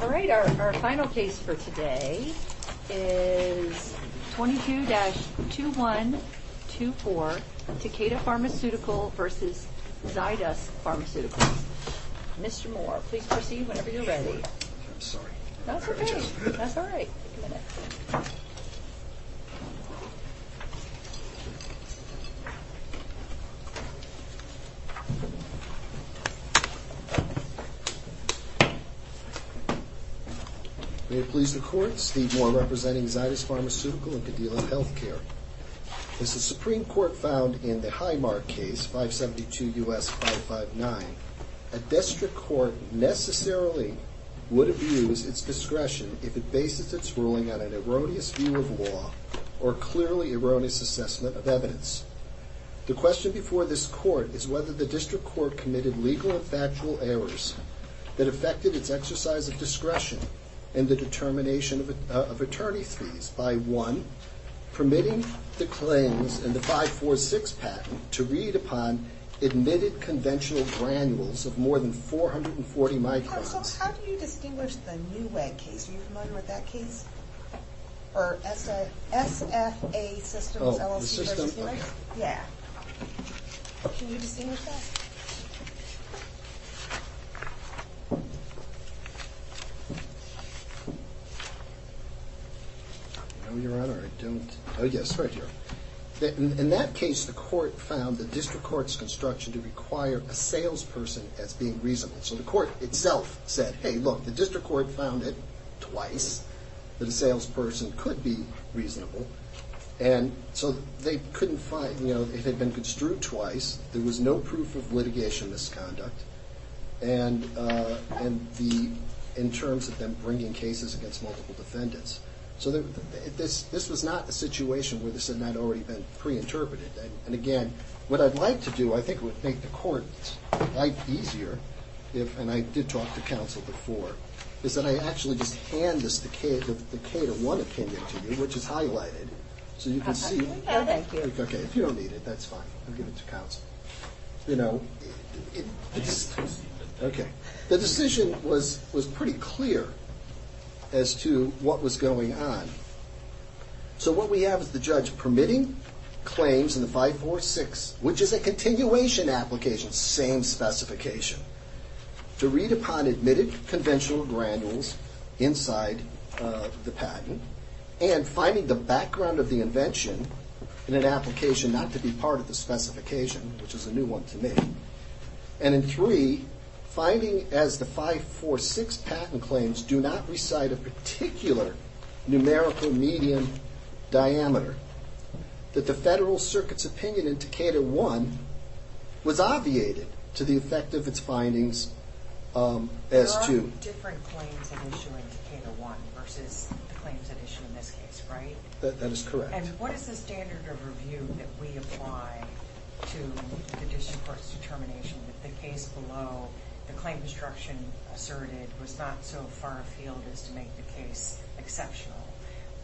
Alright, our final case for today is 22-2124 Takeda Pharmaceuticals v. Zydus Pharmaceuticals. Mr. Moore, please proceed whenever you're ready. I'm sorry. That's okay. That's alright. May it please the Court, Steve Moore representing Zydus Pharmaceuticals and Cadila Healthcare. As the Supreme Court found in the Highmark case, 572 U.S. 559, a district court necessarily would abuse its discretion if it bases its ruling on an erroneous view of law or clearly erroneous assessment of evidence. The question before this Court is whether the district court committed legal or factual errors that affected its exercise of discretion in the determination of attorney fees by 1. permitting the claims in the 546 patent to read upon admitted conventional granules of more than 440 microns. Counsel, how do you distinguish the NEWEG case? Are you familiar with that case? SFA Systems LLC v. Zydus? Yeah. Can you distinguish that? No, Your Honor, I don't. Oh yes, right here. In that case, the court found the district court's construction to require a salesperson as being reasonable. So the court itself said, hey, look, the district court found it twice that a salesperson could be reasonable. And so they couldn't find, you know, it had been construed twice. There was no proof of litigation misconduct in terms of them bringing cases against multiple defendants. So this was not a situation where this had not already been preinterpreted. And again, what I'd like to do, I think it would make the court's life easier, and I did talk to counsel before, is that I actually just hand the K-1 opinion to you, which is highlighted, so you can see. Oh, thank you. Okay, if you don't need it, that's fine. I'll give it to counsel. You know, the decision was pretty clear as to what was going on. So what we have is the judge permitting claims in the 546, which is a continuation application, same specification, to read upon admitted conventional granules inside the patent, and finding the background of the invention in an application not to be part of the specification, which is a new one to me. And in three, finding as the 546 patent claims do not recite a particular numerical medium diameter, that the Federal Circuit's opinion in Decatur 1 was obviated to the effect of its findings as to... There are different claims at issue in Decatur 1 versus the claims at issue in this case, right? That is correct. And what is the standard of review that we apply to the district court's determination that the case below the claim destruction asserted was not so far afield as to make the case exceptional?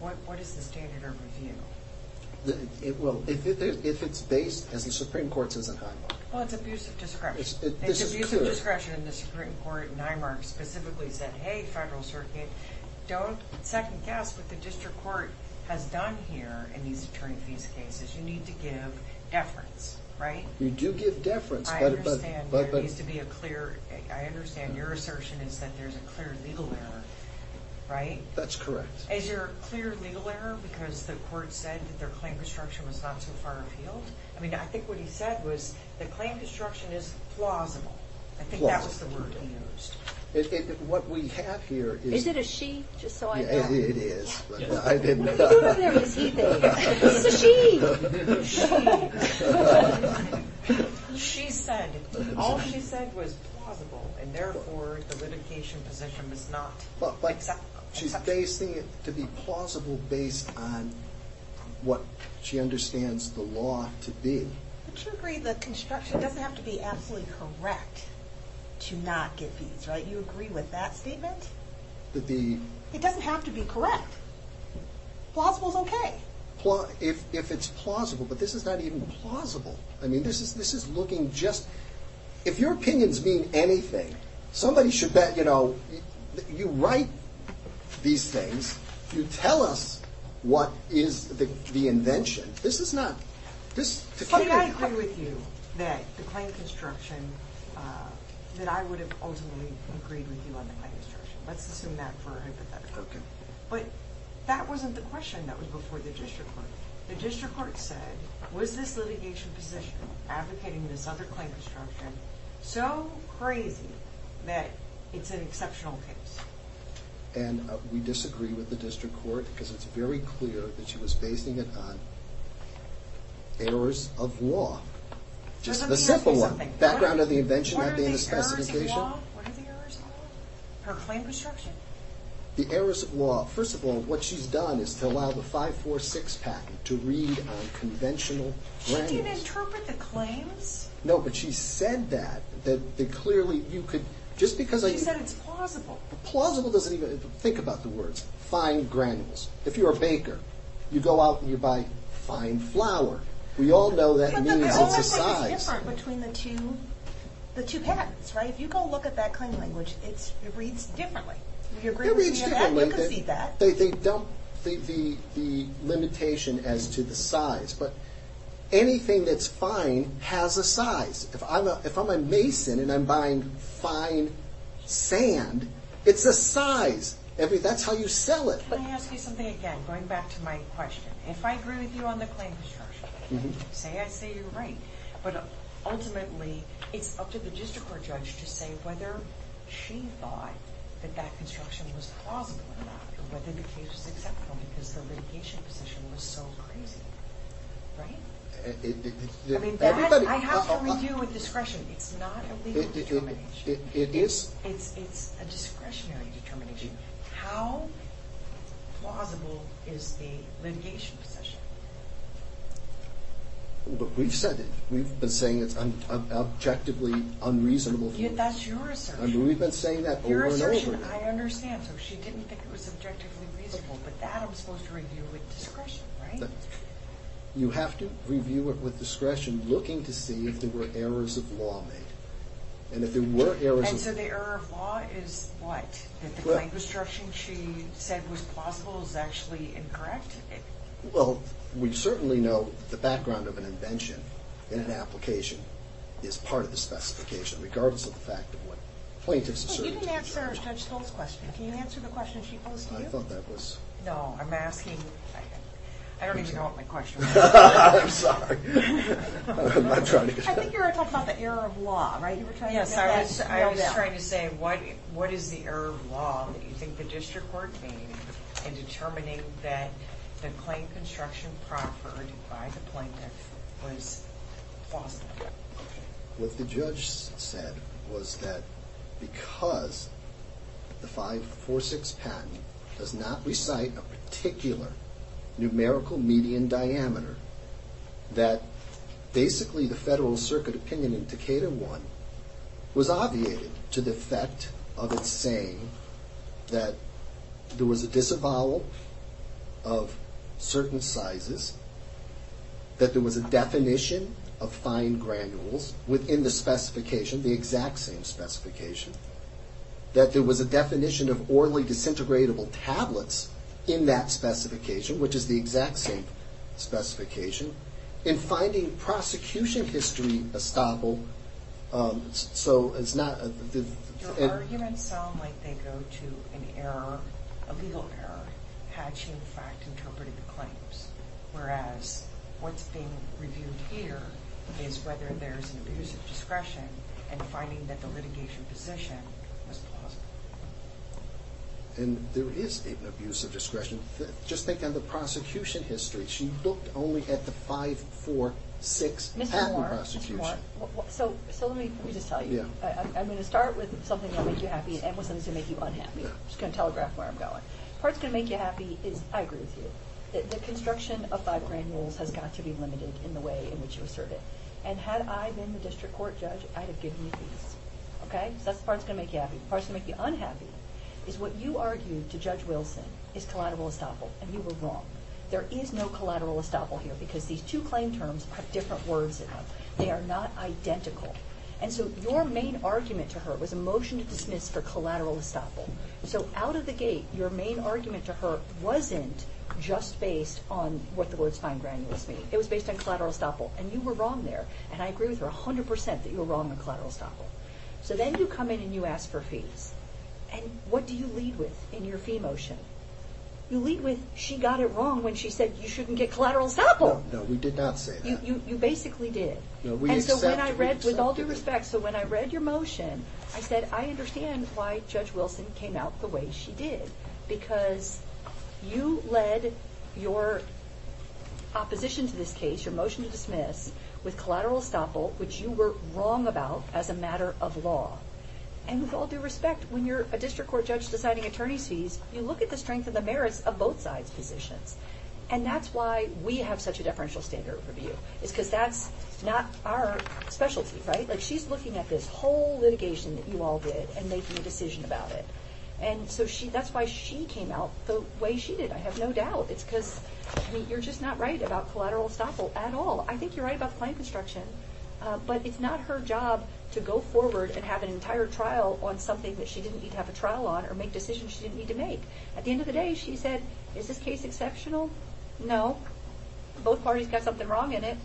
What is the standard of review? Well, if it's based, as the Supreme Court says in Highmark... Well, it's abusive discretion. It's abusive discretion, and the Supreme Court in Highmark specifically said, hey, Federal Circuit, don't second-guess what the district court has done here in these attorney fees cases. You need to give deference, right? You do give deference, but... I understand there needs to be a clear... I understand your assertion is that there's a clear legal error, right? That's correct. Is there a clear legal error because the court said that their claim destruction was not so far afield? I mean, I think what he said was the claim destruction is plausible. I think that was the word he used. What we have here is... Is it a she, just so I know? It is. Who in there is he thinking? It's a she. It's a she. She said, all she said was plausible, and therefore the litigation position was not acceptable. She's basing it to be plausible based on what she understands the law to be. Don't you agree the construction doesn't have to be absolutely correct to not get fees, right? You agree with that statement? That the... It doesn't have to be correct. Plausible's okay. If it's plausible, but this is not even plausible. I mean, this is looking just... If your opinions mean anything, somebody should bet, you know... You write these things. You tell us what is the invention. This is not... Can I agree with you that the claim construction... That I would have ultimately agreed with you on the claim construction. Let's assume that for a hypothetical. But that wasn't the question that was before the district court. The district court said, was this litigation position, advocating this other claim construction, so crazy that it's an exceptional case? And we disagree with the district court because it's very clear that she was basing it on errors of law. Just the simple one. Let me ask you something. Background of the invention not being the specification. What are the errors of law? What are the errors of law? Her claim construction? The errors of law. First of all, what she's done is to allow the 546 patent to read on conventional language. She didn't interpret the claims. No, but she said that. That clearly you could... She said it's plausible. Plausible doesn't even... Think about the words. Fine granules. If you're a baker, you go out and you buy fine flour. We all know that means it's a size. But the only thing that's different between the two patents, right? If you go look at that claim language, it reads differently. You agree with me on that? It reads differently. You can see that. They dump the limitation as to the size. But anything that's fine has a size. If I'm a mason and I'm buying fine sand, it's a size. That's how you sell it. Can I ask you something again, going back to my question? If I agree with you on the claim construction, say I say you're right, but ultimately it's up to the district court judge to say whether she thought that that construction was plausible or not, or whether the case was acceptable because the litigation position was so crazy. Right? I have to review with discretion. It's not a legal determination. It is? It's a discretionary determination. How plausible is the litigation position? We've said it. We've been saying it's objectively unreasonable. That's your assertion. We've been saying that over and over. Your assertion, I understand. So she didn't think it was objectively reasonable, but that I'm supposed to review with discretion, right? You have to review it with discretion, looking to see if there were errors of law made. And if there were errors of law made. And so the error of law is what? That the claim construction she said was plausible is actually incorrect? Well, we certainly know that the background of an invention in an application is part of the specification, regardless of the fact of what plaintiffs asserted. You didn't answer Judge Stoll's question. Can you answer the question she posed to you? I thought that was... No, I'm asking... I don't even know what my question was. I'm sorry. I think you were talking about the error of law, right? Yes, I was trying to say what is the error of law that you think the district court made in determining that the claim construction proffered by the plaintiff was plausible? What the judge said was that because the 546 patent does not recite a particular numerical median diameter, that basically the Federal Circuit opinion in Decatur 1 was obviated to the effect of it saying that there was a disavowal of certain sizes, that there was a definition of fine granules within the specification, the exact same specification, that there was a definition of orally disintegratable tablets in that specification, which is the exact same specification. In finding prosecution history estoppel, so it's not... Your arguments sound like they go to an error, a legal error, had she in fact interpreted the claims, whereas what's being reviewed here is whether there's an abuse of discretion in finding that the litigation position was plausible. And there is an abuse of discretion. Just think on the prosecution history. She looked only at the 546 patent prosecution. Mr. Moore, so let me just tell you. I'm going to start with something that will make you happy and end with something that's going to make you unhappy. I'm just going to telegraph where I'm going. The part that's going to make you happy is, I agree with you, that the construction of fine granules has got to be limited in the way in which you assert it. And had I been the district court judge, I'd have given you these. Okay? So that's the part that's going to make you happy. The part that's going to make you unhappy is what you argued to Judge Wilson is collateral estoppel, and you were wrong. There is no collateral estoppel here because these two claim terms have different words in them. They are not identical. And so your main argument to her was a motion to dismiss for collateral estoppel. So out of the gate, your main argument to her wasn't just based on what the words fine granules mean. It was based on collateral estoppel, and you were wrong there. And I agree with her 100% that you were wrong on collateral estoppel. So then you come in and you ask for fees. And what do you lead with in your fee motion? You lead with, she got it wrong when she said you shouldn't get collateral estoppel. No, we did not say that. You basically did. No, we accept it. And so when I read, with all due respect, so when I read your motion, I said, I understand why Judge Wilson came out the way she did because you led your opposition to this case, your motion to dismiss, with collateral estoppel, which you were wrong about as a matter of law. And with all due respect, when you're a district court judge deciding attorney's fees, you look at the strength and the merits of both sides' positions. And that's why we have such a deferential standard review is because that's not our specialty, right? Like, she's looking at this whole litigation that you all did and making a decision about it. And so that's why she came out the way she did, I have no doubt. It's because you're just not right about collateral estoppel at all. I think you're right about the claim construction, but it's not her job to go forward and have an entire trial on something that she didn't need to have a trial on or make decisions she didn't need to make. At the end of the day, she said, is this case exceptional? No. Both parties got something wrong in it.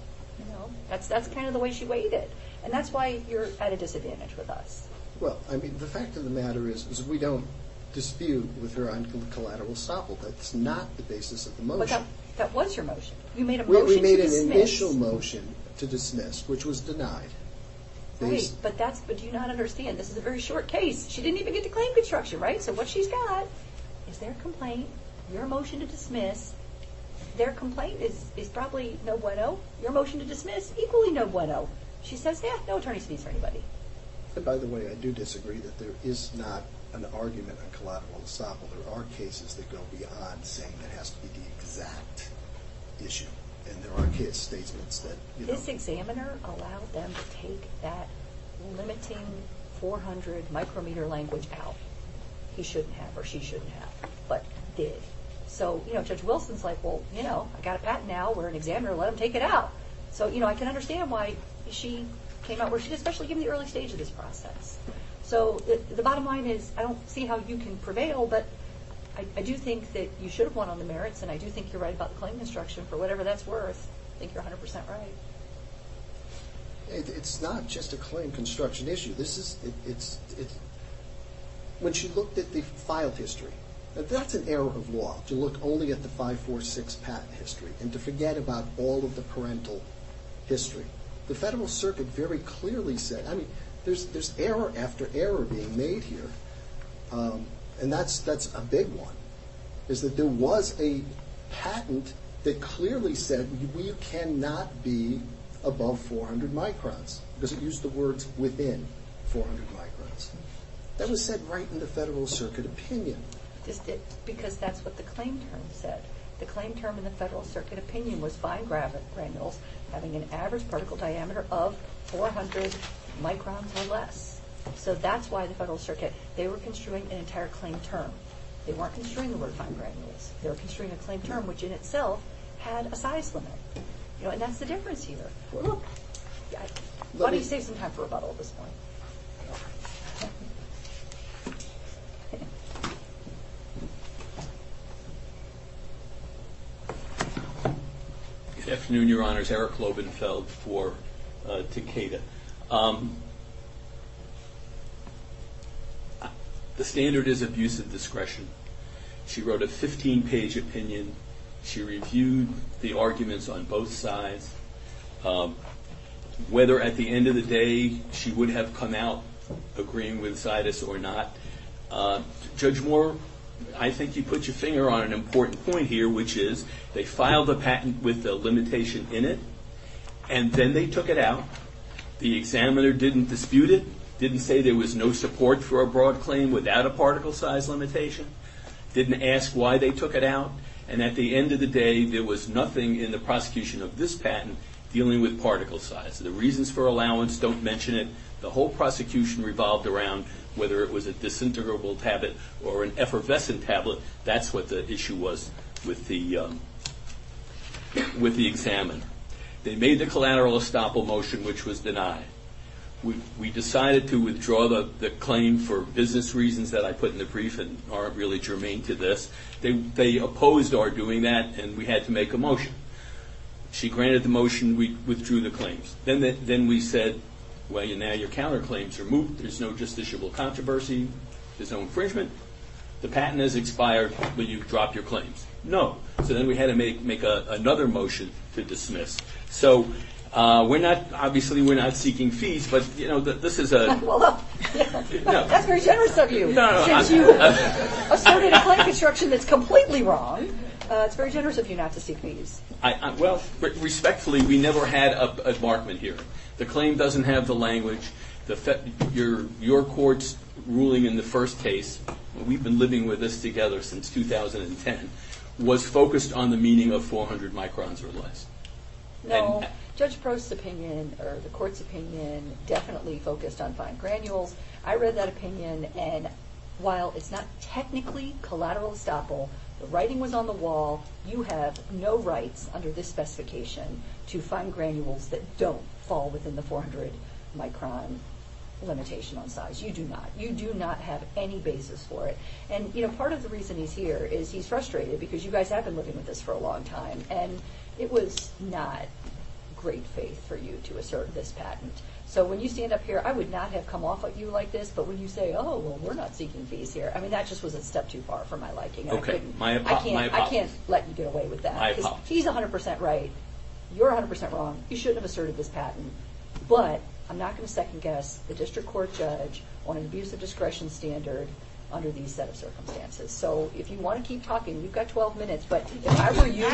That's kind of the way she weighed it. And that's why you're at a disadvantage with us. Well, I mean, the fact of the matter is is we don't dispute with her on collateral estoppel. That's not the basis of the motion. But that was your motion. You made a motion to dismiss. We made an initial motion to dismiss, which was denied. Right, but do you not understand? This is a very short case. She didn't even get to claim construction, right? So what she's got is their complaint, your motion to dismiss. Their complaint is probably no bueno. Your motion to dismiss, equally no bueno. She says, yeah, no attorney's fees for anybody. And by the way, I do disagree that there is not an argument on collateral estoppel. There are cases that go beyond saying that has to be the exact issue. And there are case statements that, you know. This examiner allowed them to take that limiting 400 micrometer language out. He shouldn't have or she shouldn't have, but did. So Judge Wilson's like, well, you know, I got a patent now. We're an examiner. Let them take it out. So I can understand why she came out or she's especially in the early stage of this process. So the bottom line is, I don't see how you can prevail, but I do think that you should have won on the merits and I do think you're right about the claim construction for whatever that's worth. I think you're 100% right. It's not just a claim construction issue. This is, it's, it's. When she looked at the file history, that's an error of law to look only at the 546 patent history and to forget about all of the parental history. The Federal Circuit very clearly said, I mean, there's error after error being made here. And that's, that's a big one, is that there was a patent that clearly said we cannot be above 400 microns. Because it used the words within 400 microns. That was said right in the Federal Circuit opinion. Because that's what the claim term said. The claim term in the Federal Circuit opinion was fine granules having an average particle diameter of 400 microns or less. So that's why the Federal Circuit, they were construing an entire claim term. They weren't construing the word fine granules. They were construing a claim term, which in itself had a size limit. You know, and that's the difference here. Look, let me save some time for rebuttal at this point. Good afternoon, Your Honors. Eric Lovenfeld for Takeda. The standard is abusive discretion. She wrote a 15-page opinion. She reviewed the arguments on both sides. Whether at the end of the day she would have come out agreeing with Sidus or not. Judge Moore, I think you put your finger on an important point here, which is they filed a patent with a limitation in it. And then they took it out. The examiner didn't dispute it. Didn't say there was no support for a broad claim without a particle size limitation. Didn't ask why they took it out. And at the end of the day, there was nothing in the prosecution of this patent dealing with particle size. The reasons for allowance don't mention it. The whole prosecution revolved around whether it was a disintegrable tablet or an effervescent tablet. That's what the issue was with the examiner. They made the collateral estoppel motion, which was denied. We decided to withdraw the claim for business reasons that I put in the brief and aren't really germane to this. They opposed our doing that and we had to make a motion. She granted the motion. We withdrew the claims. Then we said, well, now your counterclaims are moot. There's no justiciable controversy. There's no infringement. The patent has expired. Will you drop your claims? No. So then we had to make another motion to dismiss. So obviously we're not seeking fees, but this is a... Well, that's very generous of you since you asserted a claim construction that's completely wrong. It's very generous of you not to seek fees. Well, respectfully, we never had a debarment here. The claim doesn't have the language. Your court's ruling in the first case, we've been living with this together since 2010, was focused on the meaning of 400 microns or less. No. Judge Prost's opinion, or the court's opinion, definitely focused on fine granules. I read that opinion, and while it's not technically collateral estoppel, the writing was on the wall. You have no rights under this specification to fine granules that don't fall within the 400 micron limitation on size. You do not. You do not have any basis for it. And part of the reason he's here is he's frustrated because you guys have been living with this for a long time, and it was not great faith for you to assert this patent. So when you stand up here, I would not have come off at you like this, but when you say, oh, well, we're not seeking fees here, I mean, that just was a step too far for my liking. I can't let you get away with that. He's 100% right. You're 100% wrong. You shouldn't have asserted this patent. But I'm not going to second guess the district court judge on an abuse of discretion standard under these set of circumstances. So if you want to keep talking, you've got 12 minutes, but if I were you,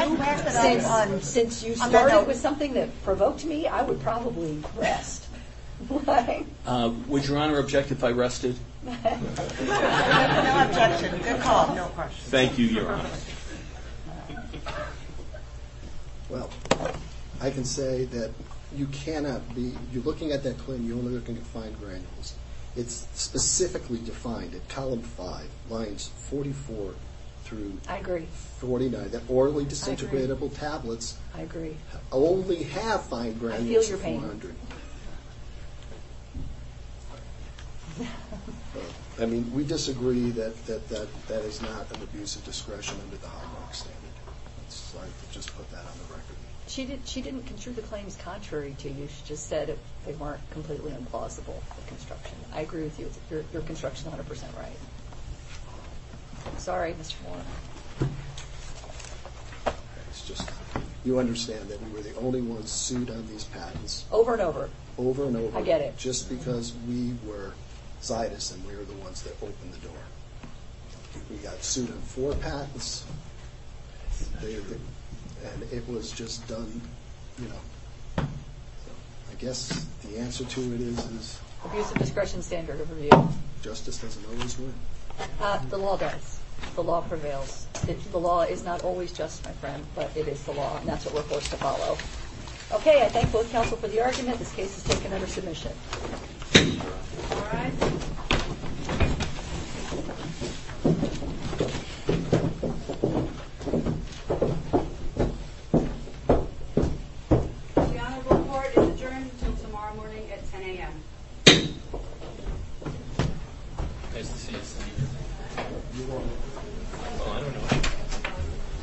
since you started with something that provoked me, I would probably rest. Would Your Honor object if I rested? No objection. Good call. Thank you, Your Honor. Well, I can say that you cannot be, you're looking at that claim, you're only looking at fine granules. It's specifically defined at column 5, lines 44 through 49, that orally disintegratable tablets only have fine granules 400. I feel your pain. I mean, we disagree that that is not an abuse of discretion under the high block standard. It's like they just put that on the record. She didn't construe the claims contrary to you. She just said they weren't completely implausible, the construction. I agree with you. You're construction 100% right. Sorry, Mr. Warren. You understand that we were the only ones sued on these patents. Over and over. Over and over. I get it. Just because we were Zeitus, and we were the ones that opened the door. We got sued on four patents, and it was just done, you know, I guess the answer to it is... Abuse of discretion standard of review. Justice doesn't always win. The law does. The law prevails. The law is not always just, my friend, but it is the law, and that's what we're forced to follow. Okay, I thank both counsel for the argument. This case is taken under submission. All right. The honorable court is adjourned until tomorrow morning at 10 a.m. Nice to see you, Sydney. You won. Oh, I don't know.